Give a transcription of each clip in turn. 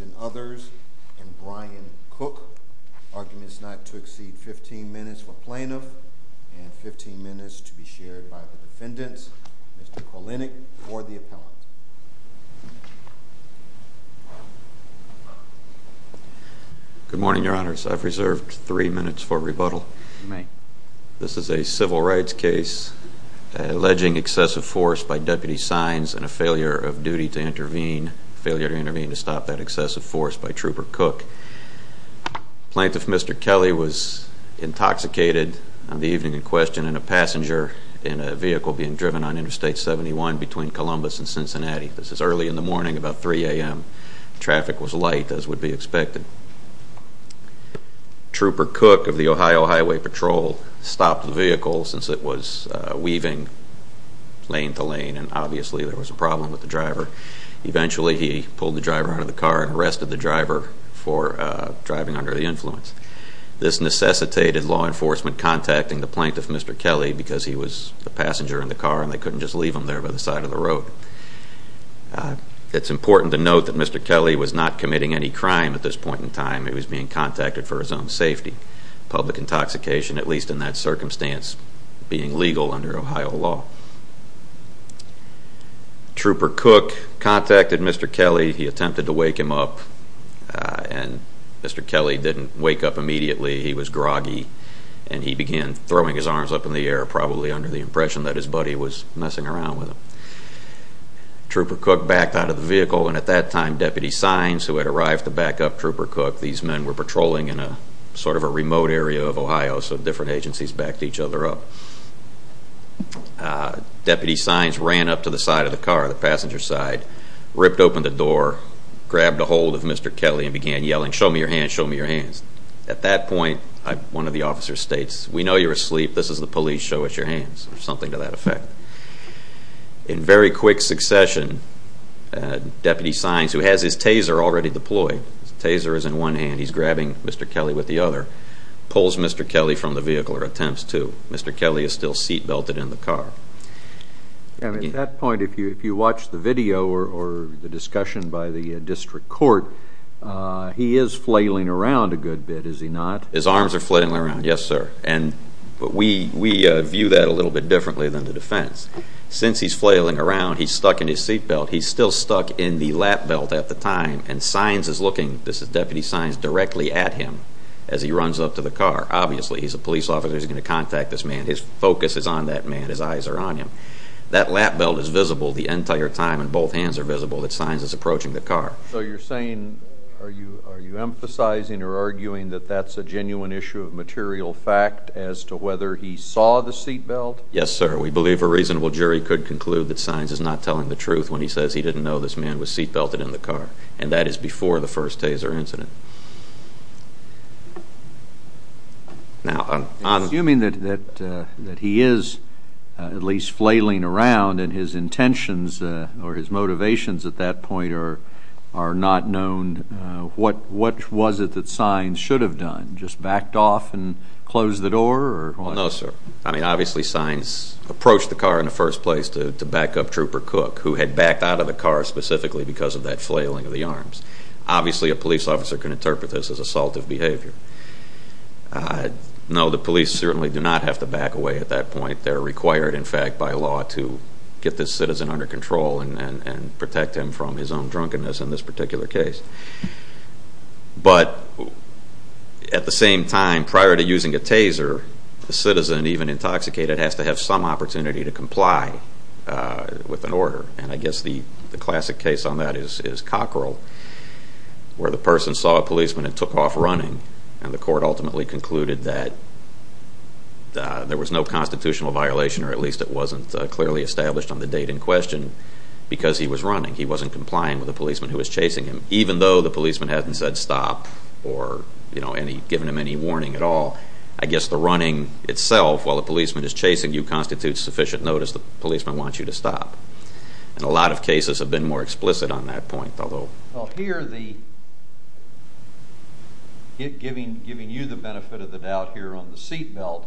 and others, and Brian Cook. Argument is not to exceed 15 minutes for plaintiff, and 15 minutes to be shared by the defendants. Mr. Kolinik for the appellant. Good morning, your honors. I've reserved three minutes for rebuttal. This is a civil rights case alleging excessive force by Deputy Sines and a failure of duty to intervene, failure to intervene to stop that excessive force by Trooper Cook. Plaintiff Mr. Kelly was intoxicated on the evening in question in a passenger in a vehicle being driven on Interstate 71 between Columbus and Cincinnati. This is early in the morning, about 3 a.m. Traffic was light as would be expected. Trooper Cook of the Ohio Highway Patrol stopped the vehicle since it was weaving lane to lane and obviously there was a problem with the driver. Eventually he pulled the driver out of the car and arrested the driver for driving under the influence. This necessitated law enforcement contacting the plaintiff, Mr. Kelly, because he was the passenger in the car and they couldn't just leave him there by the side of the road. It's important to note that Mr. Kelly was not committing any crime at this point in time. He was being contacted for his own safety. Public intoxication, at least in that circumstance, being legal under Ohio law. Trooper Cook contacted Mr. Kelly. He attempted to wake him up and Mr. Kelly didn't wake up immediately. He was groggy and he began throwing his arms up in the air, probably under the impression that his buddy was messing around with him. Trooper Cook backed out of the vehicle and at that time Deputy Signs, who had arrived to back up Trooper Cook, these men were patrolling in sort of a remote area of Ohio so different agencies backed each other up. Deputy Signs ran up to the side of the car, the passenger side, ripped open the door, grabbed a hold of Mr. Kelly and began yelling, show me your hands, show me your hands. At that point one of the officers states, we know you're asleep, this is the police, show us your hands or something to that effect. In very quick succession, Deputy Signs, who has his taser already deployed, his taser is in one hand, he's grabbing Mr. Kelly with the other, pulls Mr. Kelly from the vehicle or attempts to. Mr. Kelly is still seat belted in the car. At that point, if you watch the video or the discussion by the district court, he is flailing around a good bit, is he not? His arms are flailing around, yes sir, but we view that a little bit differently than the defense. Since he's flailing around, he's stuck in his seat belt, he's still stuck in the lap belt at the time and Signs is looking, this is Deputy Signs, directly at him as he runs up to the car. Obviously he's a police officer, he's going to contact this man, his focus is on that man, his eyes are on him. That lap belt is visible the entire time and both hands are visible that Signs is approaching the car. So you're saying, are you emphasizing or arguing that that's a genuine issue of material fact as to whether he saw the seat belt? Yes sir, we believe a reasonable jury could conclude that Signs is not telling the truth when he says he didn't know this man was seat belted in the car and that is before the first taser incident. Assuming that he is at least flailing around and his intentions or his motivations at that point are not known, what was it that Signs should have done? Just backed off and closed the door? No sir, I mean obviously Signs approached the car in the first place to back up Trooper Cook who had backed out of the car specifically because of that flailing of the arms. Obviously a police officer can interpret this as assaultive behavior. No, the police certainly do not have to back away at that point. They are required in fact by law to get this citizen under control and protect him from his own drunkenness in this particular case. But at the same time, prior to using a taser, the citizen, even intoxicated, has to have some opportunity to comply with an order. And I guess the classic case on that is Cockrell where the person saw a policeman and took off running and the court ultimately concluded that there was no constitutional violation or at least it wasn't clearly established on the date in question because he was running. He wasn't complying with the policeman who was chasing him, even though the policeman hadn't said stop or given him any warning at all. I guess the running itself, while the policeman is chasing you, constitutes sufficient notice that the policeman wants you to stop. And a lot of cases have been more explicit on that point. Well here, giving you the benefit of the doubt here on the seatbelt,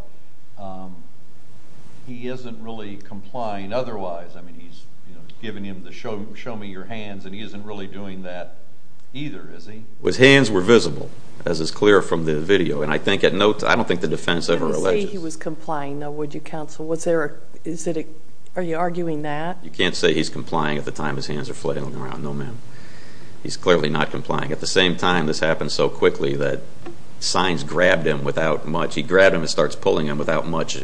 he isn't really complying otherwise. I mean, he's giving him the show me your hands and he isn't really doing that either, is he? His hands were visible, as is clear from the video. And I don't think the defense ever alleges. You can't say he was complying though, would you counsel? Are you arguing that? You can't say he's complying at the time his hands are flailing around, no ma'am. He's clearly not complying. At the same time, this happened so quickly that signs grabbed him without much. He grabbed him and starts pulling him without much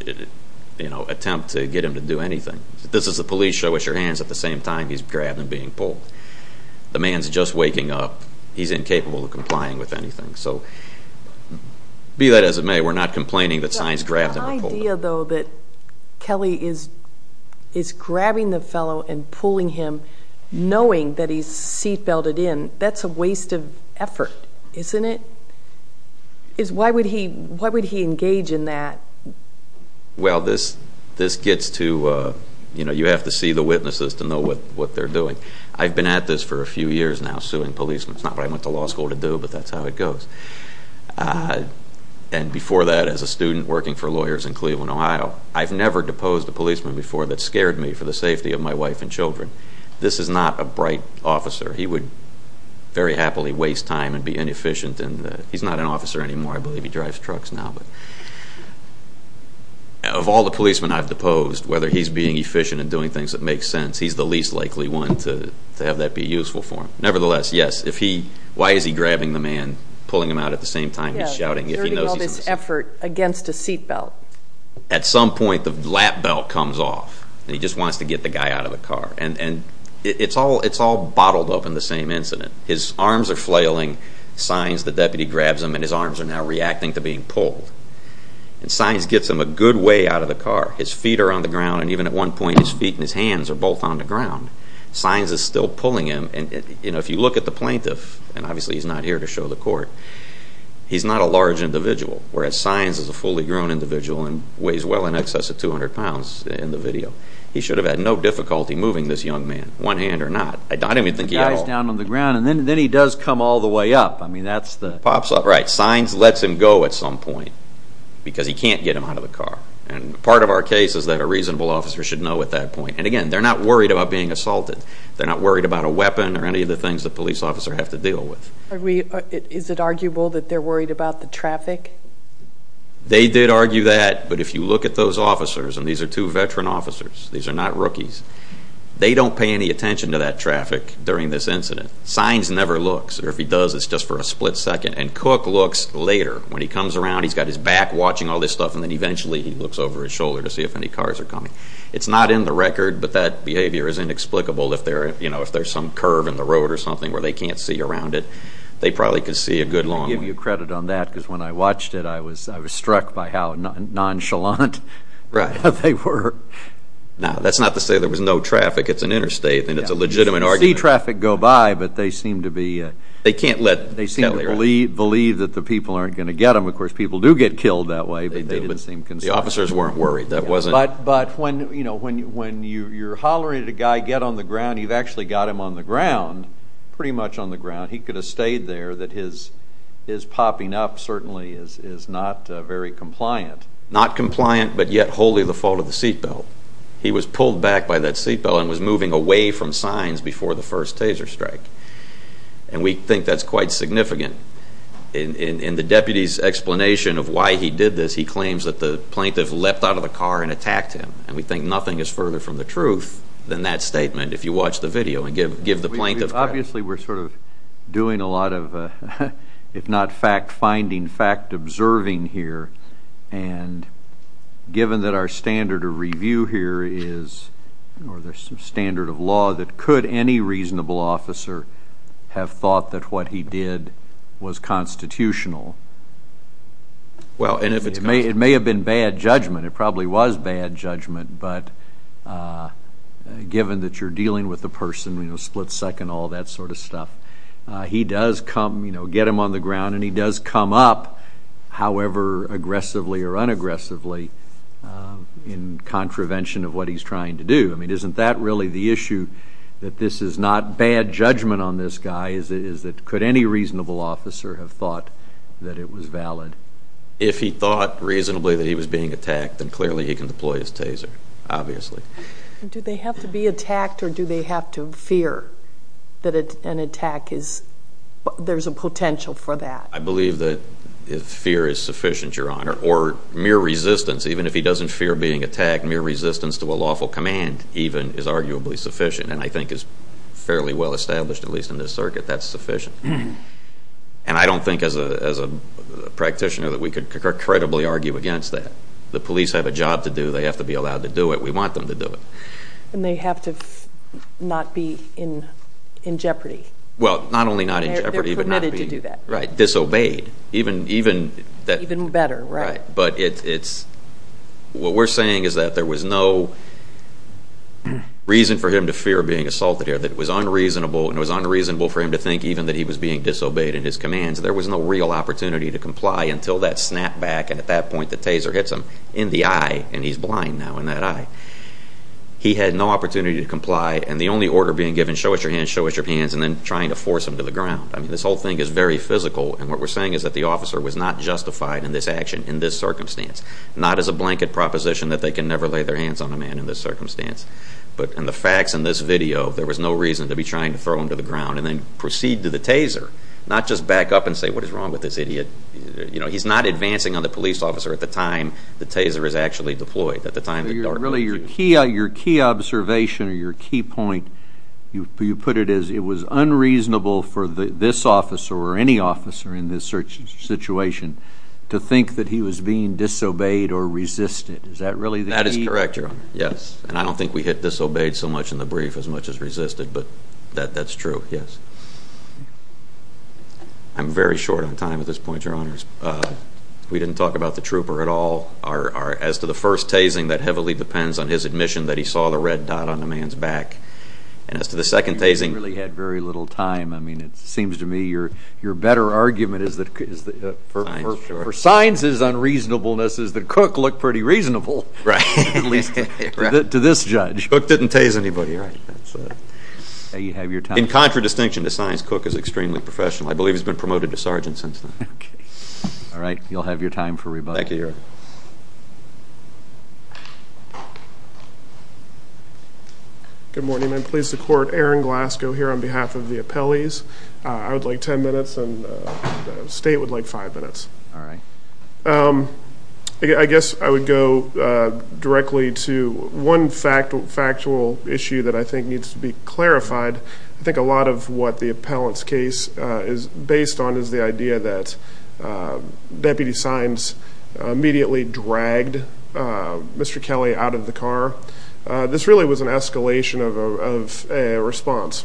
attempt to get him to do anything. This is the police show us your hands at the same time he's grabbed and being pulled. The man's just waking up. He's incapable of complying with anything. So be that as it may, we're not complaining that signs grabbed him and pulled him. The idea though that Kelly is grabbing the fellow and pulling him, knowing that he's seatbelted in, that's a waste of effort, isn't it? Why would he engage in that? Well, this gets to, you know, you have to see the witnesses to know what they're doing. I've been at this for a few years now, suing policemen. It's not what I went to law school to do, but that's how it goes. And before that, as a student working for lawyers in Cleveland, Ohio, I've never deposed a policeman before that scared me for the safety of my wife and children. This is not a bright officer. He would very happily waste time and be inefficient. He's not an officer anymore. I believe he drives trucks now. Of all the policemen I've deposed, whether he's being efficient and doing things that make sense, he's the least likely one to have that be useful for him. Nevertheless, yes, if he, why is he grabbing the man, pulling him out at the same time he's shouting if he knows he's in the seatbelt? Yes, he's hurting all this effort against a seatbelt. At some point, the lap belt comes off and he just wants to get the guy out of the car. And it's all bottled up in the same incident. His arms are flailing, signs, the deputy grabs him and his arms are now reacting to being pulled. And signs gets him a good way out of the car. His feet are on the ground and even at one point his feet and his hands are both on the ground. Signs is still pulling him and if you look at the plaintiff, and obviously he's not here to show the court, he's not a large individual. Whereas signs is a fully grown individual and weighs well in excess of 200 pounds in the video. He should have had no difficulty moving this young man, one hand or not. The guy's down on the ground and then he does come all the way up. Signs lets him go at some point because he can't get him out of the car. And part of our case is that a reasonable officer should know at that point. And again, they're not worried about being assaulted. They're not worried about a weapon or any of the things a police officer has to deal with. Is it arguable that they're worried about the traffic? They did argue that, but if you look at those officers, and these are two veteran officers, these are not rookies, they don't pay any attention to that traffic during this incident. Signs never looks, or if he does, it's just for a split second. And Cook looks later. When he comes around, he's got his back watching all this stuff, and then eventually he looks over his shoulder to see if any cars are coming. It's not in the record, but that behavior is inexplicable. If there's some curve in the road or something where they can't see around it, they probably could see a good long way. I give you credit on that because when I watched it, I was struck by how nonchalant they were. Now, that's not to say there was no traffic. It's an interstate and it's a legitimate argument. You see traffic go by, but they seem to be... They believe that the people aren't going to get them. Of course, people do get killed that way, but they didn't seem concerned. The officers weren't worried. But when you're hollering at a guy, get on the ground, you've actually got him on the ground, pretty much on the ground. He could have stayed there. His popping up certainly is not very compliant. Not compliant, but yet wholly the fault of the seatbelt. He was pulled back by that seatbelt and was moving away from signs before the first taser strike. And we think that's quite significant. In the deputy's explanation of why he did this, he claims that the plaintiff leapt out of the car and attacked him. And we think nothing is further from the truth than that statement, if you watch the video and give the plaintiff credit. Obviously, we're sort of doing a lot of, if not fact-finding, fact-observing here. And given that our standard of review here is, or the standard of law, that could any reasonable officer have thought that what he did was constitutional? Well, and it may have been bad judgment. It probably was bad judgment. But given that you're dealing with a person, you know, split-second, all that sort of stuff, he does come, you know, get him on the ground, and he does come up, however aggressively or unaggressively, in contravention of what he's trying to do. I mean, isn't that really the issue, that this is not bad judgment on this guy, is that could any reasonable officer have thought that it was valid? If he thought reasonably that he was being attacked, then clearly he can deploy his taser, obviously. Do they have to be attacked, or do they have to fear that an attack is, there's a potential for that? I believe that fear is sufficient, Your Honor. Or mere resistance, even if he doesn't fear being attacked, mere resistance to a lawful command even is arguably sufficient, and I think is fairly well established, at least in this circuit, that's sufficient. And I don't think as a practitioner that we could credibly argue against that. The police have a job to do. They have to be allowed to do it. We want them to do it. And they have to not be in jeopardy. Well, not only not in jeopardy, but not be disobeyed. Even better, right. What we're saying is that there was no reason for him to fear being assaulted here, that it was unreasonable for him to think even that he was being disobeyed in his commands. There was no real opportunity to comply until that snap back, and at that point the taser hits him in the eye, and he's blind now in that eye. He had no opportunity to comply, and the only order being given, show us your hands, show us your hands, and then trying to force him to the ground. I mean, this whole thing is very physical, and what we're saying is that the officer was not justified in this action in this circumstance, not as a blanket proposition that they can never lay their hands on a man in this circumstance. But in the facts in this video, there was no reason to be trying to throw him to the ground and then proceed to the taser, not just back up and say, what is wrong with this idiot? He's not advancing on the police officer at the time the taser is actually deployed, at the time the dart went through. Your key observation or your key point, you put it as it was unreasonable for this officer or any officer in this situation to think that he was being disobeyed or resisted. Is that really the key? That is correct, Your Honor, yes. And I don't think we hit disobeyed so much in the brief as much as resisted, but that's true, yes. I'm very short on time at this point, Your Honors. We didn't talk about the trooper at all. As to the first tasing, that heavily depends on his admission that he saw the red dot on the man's back. And as to the second tasing. You really had very little time. I mean, it seems to me your better argument is that for science's unreasonableness is that Cook looked pretty reasonable. Right. At least to this judge. Cook didn't tase anybody. In contradistinction to science, Cook is extremely professional. I believe he's been promoted to sergeant since then. All right. You'll have your time for rebuttal. Thank you, Your Honor. Good morning. I'm pleased to court Aaron Glasgow here on behalf of the appellees. I would like ten minutes and the State would like five minutes. All right. I guess I would go directly to one factual issue that I think needs to be clarified. I think a lot of what the appellant's case is based on is the idea that Deputy Signs immediately dragged Mr. Kelly out of the car. This really was an escalation of a response.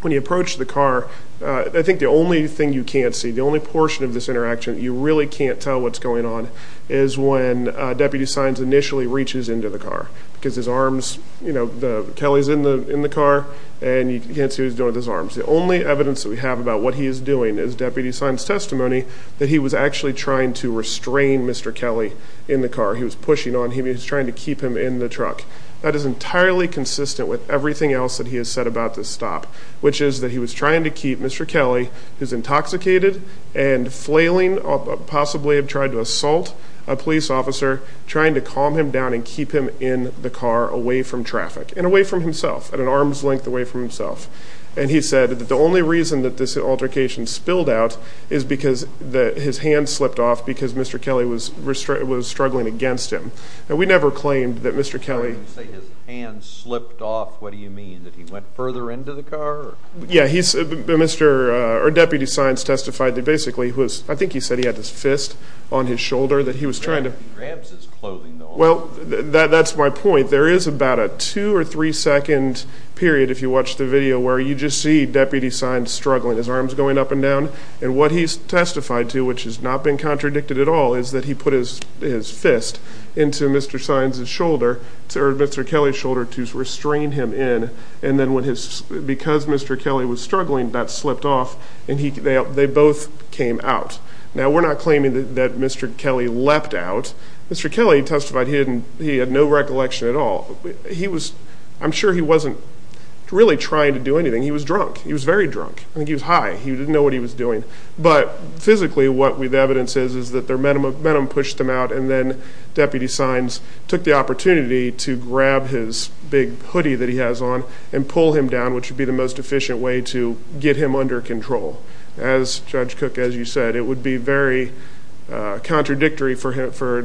When you approach the car, I think the only thing you can't see, the only portion of this interaction that you really can't tell what's going on, is when Deputy Signs initially reaches into the car because his arms, you know, Kelly's in the car and you can't see what he's doing with his arms. The only evidence that we have about what he is doing is Deputy Signs' testimony that he was actually trying to restrain Mr. Kelly in the car. He was pushing on him. He was trying to keep him in the truck. That is entirely consistent with everything else that he has said about this stop, which is that he was trying to keep Mr. Kelly, who's intoxicated and flailing, possibly have tried to assault a police officer, trying to calm him down and keep him in the car away from traffic and away from himself, at an arm's length away from himself. And he said that the only reason that this altercation spilled out is because his hand slipped off because Mr. Kelly was struggling against him. Now, we never claimed that Mr. Kelly... Yeah, Deputy Signs testified that basically, I think he said he had this fist on his shoulder that he was trying to... He grabs his clothing though. Well, that's my point. There is about a two- or three-second period, if you watch the video, where you just see Deputy Signs struggling, his arms going up and down. And what he's testified to, which has not been contradicted at all, is that he put his fist into Mr. Kelly's shoulder to restrain him in. And then because Mr. Kelly was struggling, that slipped off, and they both came out. Now, we're not claiming that Mr. Kelly leapt out. Mr. Kelly testified he had no recollection at all. I'm sure he wasn't really trying to do anything. He was drunk. He was very drunk. I think he was high. He didn't know what he was doing. But physically, what we have evidence is that their metamorphism pushed him out, and then Deputy Signs took the opportunity to grab his big hoodie that he has on and pull him down, which would be the most efficient way to get him under control. As Judge Cook, as you said, it would be very contradictory for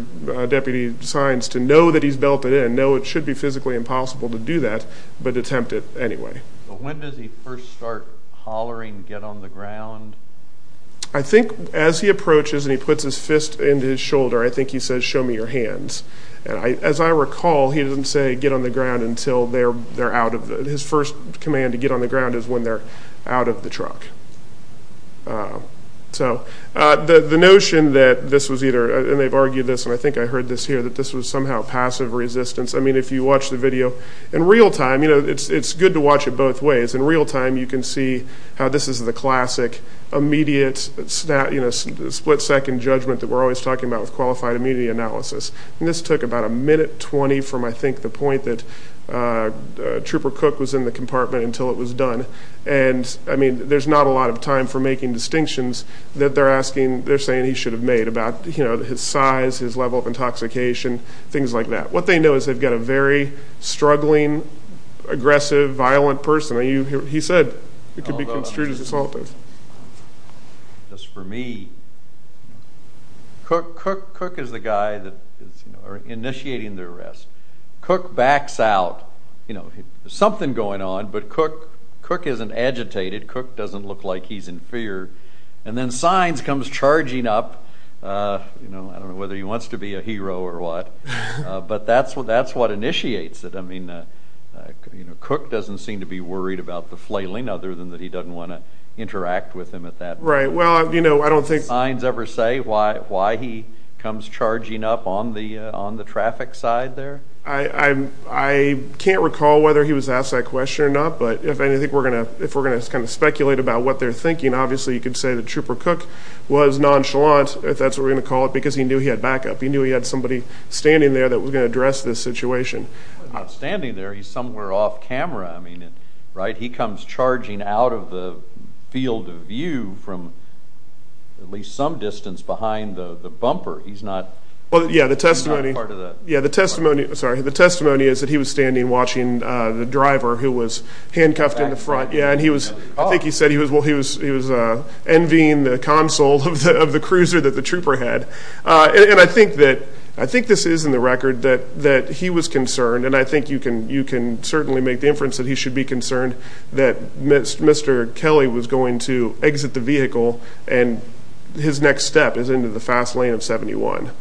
Deputy Signs to know that he's belted in, know it should be physically impossible to do that, but attempt it anyway. When does he first start hollering, get on the ground? I think as he approaches and he puts his fist into his shoulder, I think he says, show me your hands. As I recall, he doesn't say get on the ground until they're out of the truck. His first command to get on the ground is when they're out of the truck. So the notion that this was either, and they've argued this, and I think I heard this here, that this was somehow passive resistance. I mean, if you watch the video in real time, it's good to watch it both ways. In real time, you can see how this is the classic immediate split-second judgment that we're always talking about with qualified immunity analysis. And this took about a minute 20 from, I think, the point that Trooper Cook was in the compartment until it was done. And, I mean, there's not a lot of time for making distinctions that they're saying he should have made about his size, his level of intoxication, things like that. What they know is they've got a very struggling, aggressive, violent person. He said it could be construed as assaulting. Just for me, Cook is the guy that is initiating the arrest. Cook backs out. There's something going on, but Cook isn't agitated. Cook doesn't look like he's in fear. And then Sines comes charging up. I don't know whether he wants to be a hero or what, but that's what initiates it. I mean, Cook doesn't seem to be worried about the flailing, other than that he doesn't want to interact with him at that point. Right. Well, you know, I don't think… Did Sines ever say why he comes charging up on the traffic side there? I can't recall whether he was asked that question or not, but if we're going to speculate about what they're thinking, obviously you could say that Trooper Cook was nonchalant, if that's what we're going to call it, because he knew he had backup. He knew he had somebody standing there that was going to address this situation. He's not standing there. He's somewhere off camera. I mean, right, he comes charging out of the field of view from at least some distance behind the bumper. He's not part of the car. Yeah, the testimony is that he was standing watching the driver who was handcuffed in the front. Yeah, and I think he said he was envying the console of the cruiser that the trooper had. And I think this is in the record that he was concerned, and I think you can certainly make the inference that he should be concerned, that Mr. Kelly was going to exit the vehicle and his next step is into the fast lane of 71.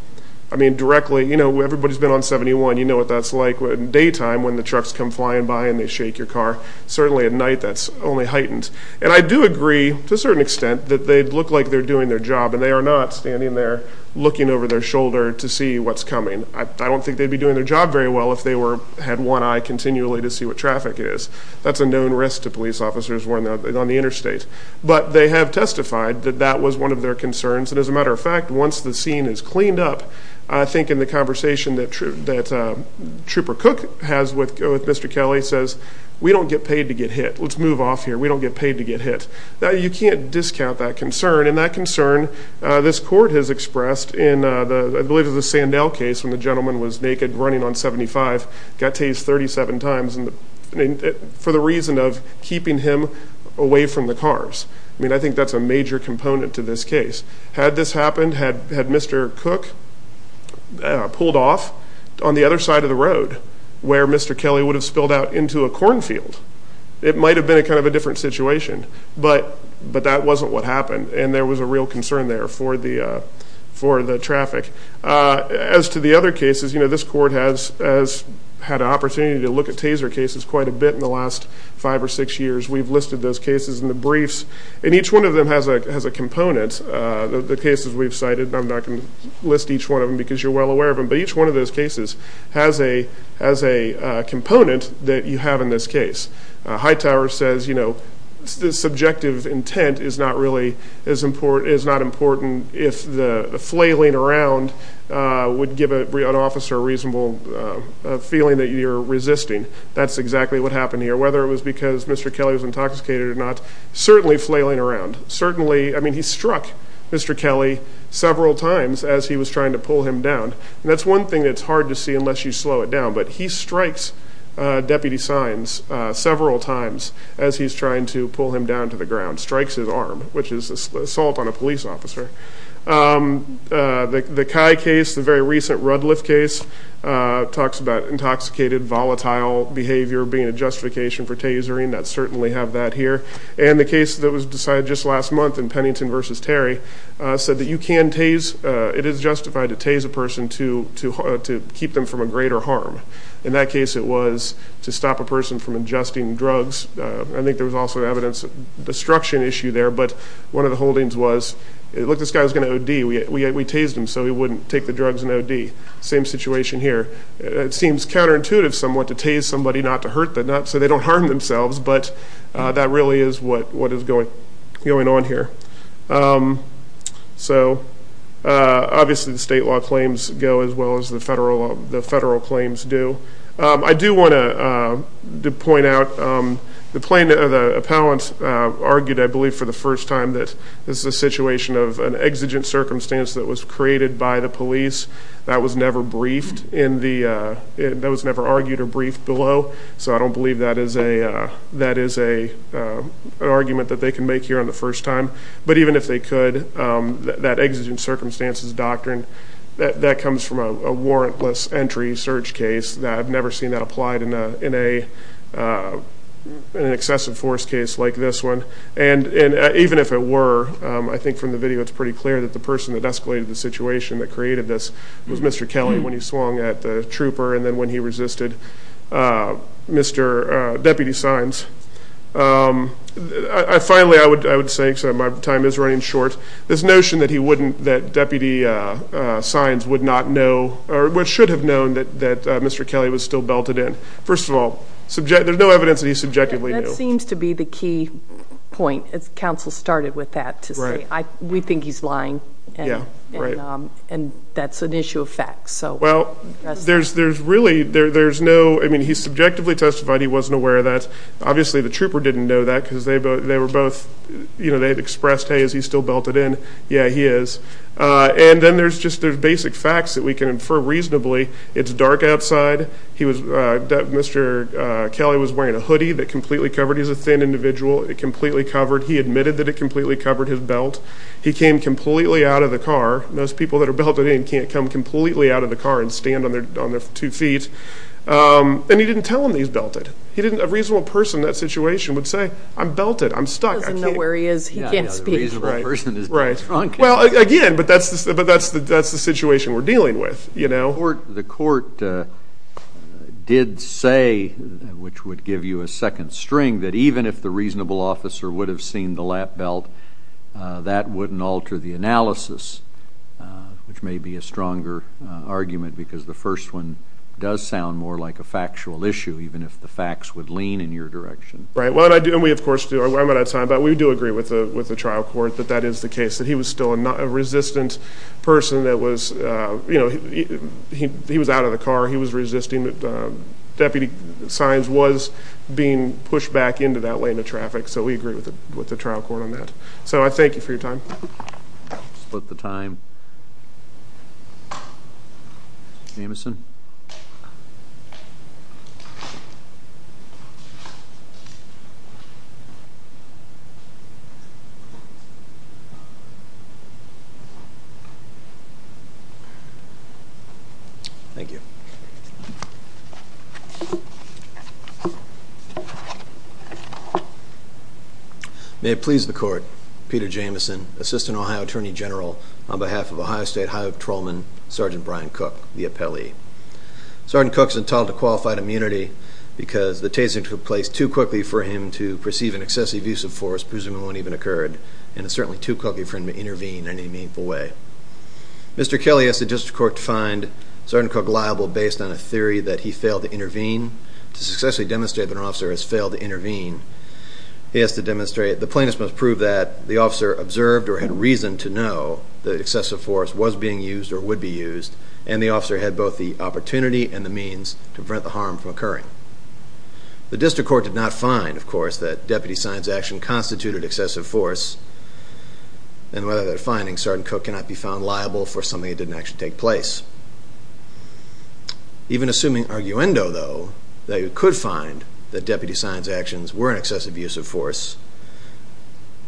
I mean, directly, you know, everybody's been on 71. You know what that's like in daytime when the trucks come flying by and they shake your car. Certainly at night, that's only heightened. And I do agree to a certain extent that they look like they're doing their job, and they are not standing there looking over their shoulder to see what's coming. I don't think they'd be doing their job very well if they had one eye continually to see what traffic is. That's a known risk to police officers on the interstate. But they have testified that that was one of their concerns. And as a matter of fact, once the scene is cleaned up, I think in the conversation that Trooper Cook has with Mr. Kelly, he says, we don't get paid to get hit. Let's move off here. We don't get paid to get hit. Now, you can't discount that concern. And that concern, this court has expressed in, I believe, the Sandell case when the gentleman was naked running on 75, got tased 37 times for the reason of keeping him away from the cars. I mean, I think that's a major component to this case. Had this happened, had Mr. Cook pulled off on the other side of the road where Mr. Kelly would have spilled out into a cornfield, it might have been kind of a different situation. But that wasn't what happened, and there was a real concern there for the traffic. As to the other cases, you know, this court has had an opportunity to look at taser cases quite a bit in the last five or six years. We've listed those cases in the briefs. And each one of them has a component. The cases we've cited, I'm not going to list each one of them because you're well aware of them, but each one of those cases has a component that you have in this case. Hightower says, you know, subjective intent is not really as important, is not important if the flailing around would give an officer a reasonable feeling that you're resisting. That's exactly what happened here. Whether it was because Mr. Kelly was intoxicated or not, certainly flailing around, certainly. I mean, he struck Mr. Kelly several times as he was trying to pull him down. And that's one thing that's hard to see unless you slow it down. But he strikes Deputy Sines several times as he's trying to pull him down to the ground, strikes his arm, which is assault on a police officer. The Kai case, the very recent Rudliff case, talks about intoxicated, volatile behavior being a justification for tasering. I certainly have that here. And the case that was decided just last month in Pennington v. Terry said that you can tase, it is justified to tase a person to keep them from a greater harm. In that case it was to stop a person from ingesting drugs. I think there was also evidence of destruction issue there. But one of the holdings was, look, this guy's going to OD. We tased him so he wouldn't take the drugs and OD. Same situation here. It seems counterintuitive somewhat to tase somebody not to hurt them so they don't harm themselves. But that really is what is going on here. So obviously the state law claims go as well as the federal claims do. I do want to point out the plaintiff or the appellant argued, I believe, for the first time, that this is a situation of an exigent circumstance that was created by the police. That was never briefed in the ñ that was never argued or briefed below. So I don't believe that is an argument that they can make here on the first time. But even if they could, that exigent circumstances doctrine, that comes from a warrantless entry search case. I've never seen that applied in an excessive force case like this one. And even if it were, I think from the video it's pretty clear that the person that escalated the situation that created this was Mr. Kelly when he swung at the trooper and then when he resisted Mr. Deputy Signs. Finally, I would say, because my time is running short, this notion that he wouldn't ñ that Deputy Signs would not know or should have known that Mr. Kelly was still belted in. First of all, there's no evidence that he subjectively knew. That seems to be the key point. Counsel started with that to say we think he's lying. Yeah, right. And that's an issue of fact. Well, there's really ñ there's no ñ I mean, he subjectively testified he wasn't aware of that. Obviously the trooper didn't know that because they were both ñ Yeah, he is. And then there's just ñ there's basic facts that we can infer reasonably. It's dark outside. He was ñ Mr. Kelly was wearing a hoodie that completely covered ñ he's a thin individual. It completely covered ñ he admitted that it completely covered his belt. He came completely out of the car. Most people that are belted in can't come completely out of the car and stand on their two feet. And he didn't tell them he's belted. He didn't ñ a reasonable person in that situation would say, I'm belted, I'm stuck. He doesn't know where he is. He can't speak. Right. Well, again, but that's the situation we're dealing with. The court did say, which would give you a second string, that even if the reasonable officer would have seen the lap belt, that wouldn't alter the analysis, which may be a stronger argument because the first one does sound more like a factual issue, even if the facts would lean in your direction. Right. And we, of course, do. But we do agree with the trial court that that is the case, that he was still a resistant person that was ñ you know, he was out of the car. He was resisting. But Deputy Sines was being pushed back into that lane of traffic, so we agree with the trial court on that. So I thank you for your time. I'll split the time. Jameson. Thank you. May it please the court, Peter Jameson, Assistant Ohio Attorney General, on behalf of Ohio State Highway Patrolman Sergeant Brian Cook, the appellee. Sergeant Cook is entitled to qualified immunity because the taser took place too quickly for him to perceive an excessive use of force, presuming one even occurred, and it's certainly too quickly for him to intervene in any meaningful way. Mr. Kelly asked the district court to find Sergeant Cook liable based on a theory that he failed to intervene. To successfully demonstrate that an officer has failed to intervene, the plaintiff must prove that the officer observed or had reason to know that excessive force was being used or would be used, and the officer had both the opportunity and the means to prevent the harm from occurring. The district court did not find, of course, that Deputy Sines' action constituted excessive force, and without that finding, Sergeant Cook cannot be found liable for something that didn't actually take place. Even assuming arguendo, though, that you could find that Deputy Sines' actions were an excessive use of force,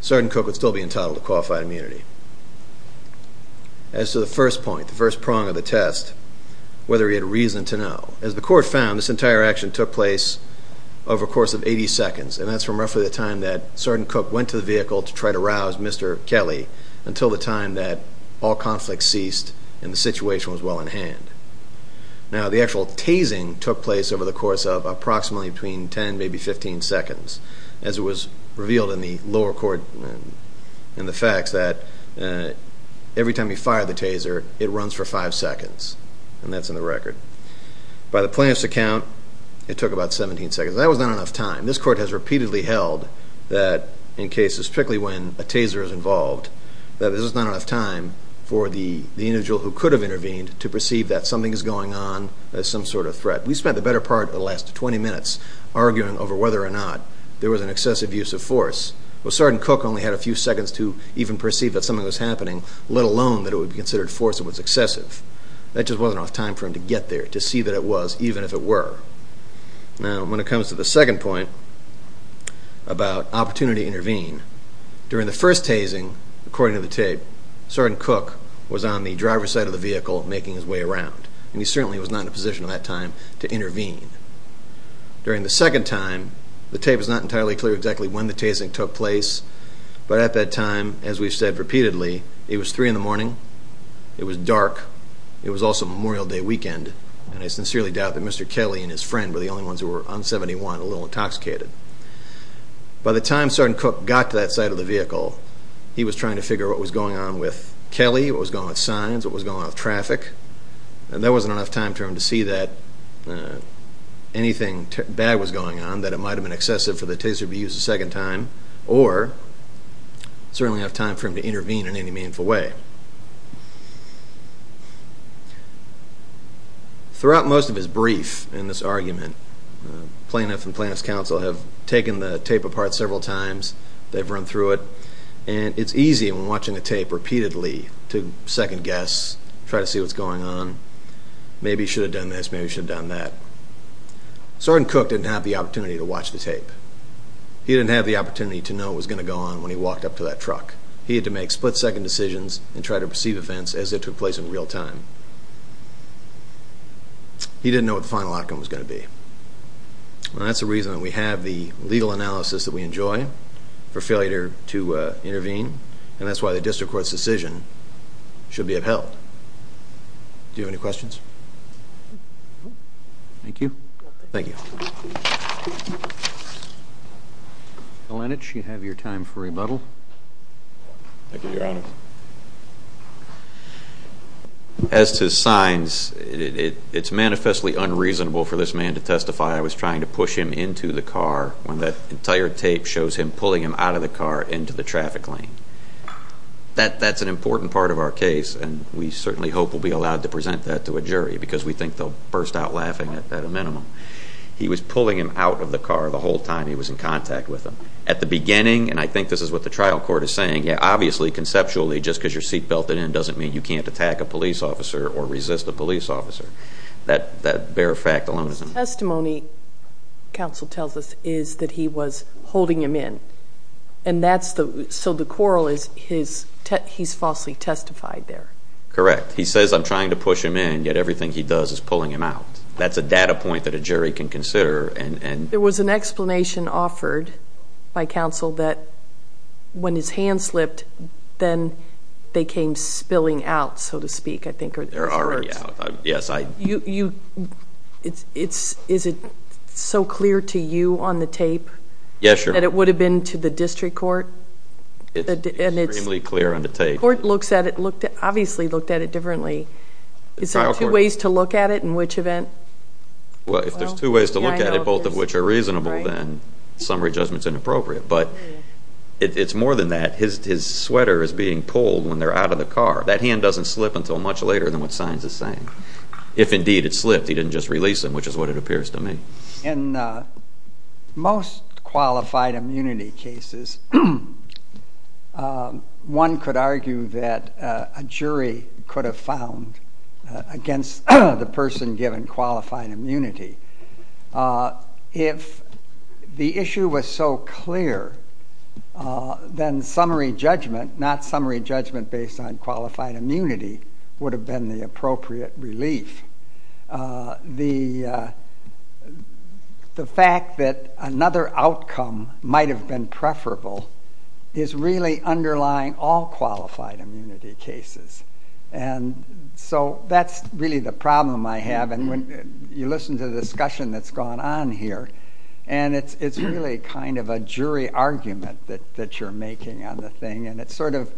Sergeant Cook would still be entitled to qualified immunity. As to the first point, the first prong of the test, whether he had reason to know, as the court found, this entire action took place over a course of 80 seconds, and that's from roughly the time that Sergeant Cook went to the vehicle to try to rouse Mr. Kelly until the time that all conflict ceased and the situation was well in hand. Now, the actual tasing took place over the course of approximately between 10, maybe 15 seconds, as it was revealed in the lower court in the facts that every time you fire the taser, it runs for five seconds, and that's in the record. By the plaintiff's account, it took about 17 seconds. That was not enough time. This court has repeatedly held that in cases, particularly when a taser is involved, that there's not enough time for the individual who could have intervened to perceive that something is going on as some sort of threat. We spent the better part of the last 20 minutes arguing over whether or not there was an excessive use of force. Well, Sergeant Cook only had a few seconds to even perceive that something was happening, let alone that it would be considered force that was excessive. That just wasn't enough time for him to get there, to see that it was, even if it were. Now, when it comes to the second point about opportunity to intervene, during the first tasing, according to the tape, Sergeant Cook was on the driver's side of the vehicle making his way around, and he certainly was not in a position at that time to intervene. During the second time, the tape is not entirely clear exactly when the tasing took place, but at that time, as we've said repeatedly, it was 3 in the morning, it was dark, it was also Memorial Day weekend, and I sincerely doubt that Mr. Kelly and his friend were the only ones who were on 71 a little intoxicated. By the time Sergeant Cook got to that side of the vehicle, he was trying to figure out what was going on with Kelly, what was going on with signs, what was going on with traffic, and there wasn't enough time for him to see that anything bad was going on, that it might have been excessive for the taser to be used a second time, or certainly enough time for him to intervene in any meaningful way. Throughout most of his brief in this argument, plaintiff and plaintiff's counsel have taken the tape apart several times, they've run through it, and it's easy when watching a tape repeatedly to second guess, try to see what's going on, maybe he should have done this, maybe he should have done that. Sergeant Cook didn't have the opportunity to watch the tape. He didn't have the opportunity to know what was going to go on when he walked up to that truck. He had to make split-second decisions and try to perceive events as if it took place in real time. He didn't know what the final outcome was going to be. That's the reason that we have the legal analysis that we enjoy for failure to intervene, and that's why the district court's decision should be upheld. Do you have any questions? Thank you. Thank you. Mr. Lenach, you have your time for rebuttal. Thank you, Your Honor. As to signs, it's manifestly unreasonable for this man to testify, I was trying to push him into the car when that entire tape shows him pulling him out of the car into the traffic lane. That's an important part of our case, and we certainly hope we'll be allowed to present that to a jury because we think they'll burst out laughing at a minimum. He was pulling him out of the car the whole time he was in contact with him. Obviously, conceptually, just because you're seat belted in doesn't mean you can't attack a police officer or resist a police officer. That bare fact alone is enough. The testimony, counsel tells us, is that he was holding him in, so the quarrel is he's falsely testified there. Correct. He says I'm trying to push him in, yet everything he does is pulling him out. That's a data point that a jury can consider. There was an explanation offered by counsel that when his hand slipped, then they came spilling out, so to speak, I think. They're already out. Is it so clear to you on the tape that it would have been to the district court? It's extremely clear on the tape. The court obviously looked at it differently. Is there two ways to look at it in which event? Well, if there's two ways to look at it, both of which are reasonable, then summary judgment is inappropriate. But it's more than that. His sweater is being pulled when they're out of the car. That hand doesn't slip until much later than what signs are saying. If, indeed, it slipped, he didn't just release him, which is what it appears to me. In most qualified immunity cases, one could argue that a jury could have found against the person given qualified immunity if the issue was so clear, then summary judgment, not summary judgment based on qualified immunity, would have been the appropriate relief. The fact that another outcome might have been preferable is really underlying all qualified immunity cases. So that's really the problem I have. You listen to the discussion that's gone on here, and it's really kind of a jury argument that you're making on the thing. And it's sort of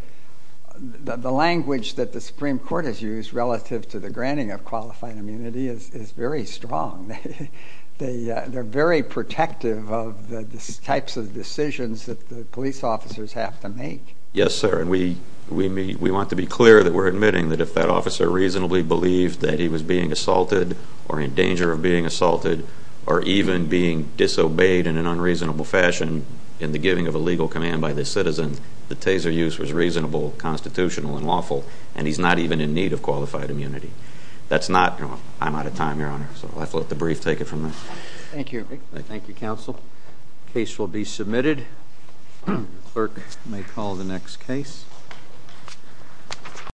the language that the Supreme Court has used relative to the granting of qualified immunity is very strong. They're very protective of the types of decisions that the police officers have to make. Yes, sir, and we want to be clear that we're admitting that if that officer reasonably believed that he was being assaulted or in danger of being assaulted or even being disobeyed in an unreasonable fashion in the giving of a legal command by the citizen, the taser use was reasonable, constitutional, and lawful, and he's not even in need of qualified immunity. I'm out of time, Your Honor, so I'll let the brief take it from there. Thank you, Eric. Thank you, counsel. The case will be submitted. The clerk may call the next case.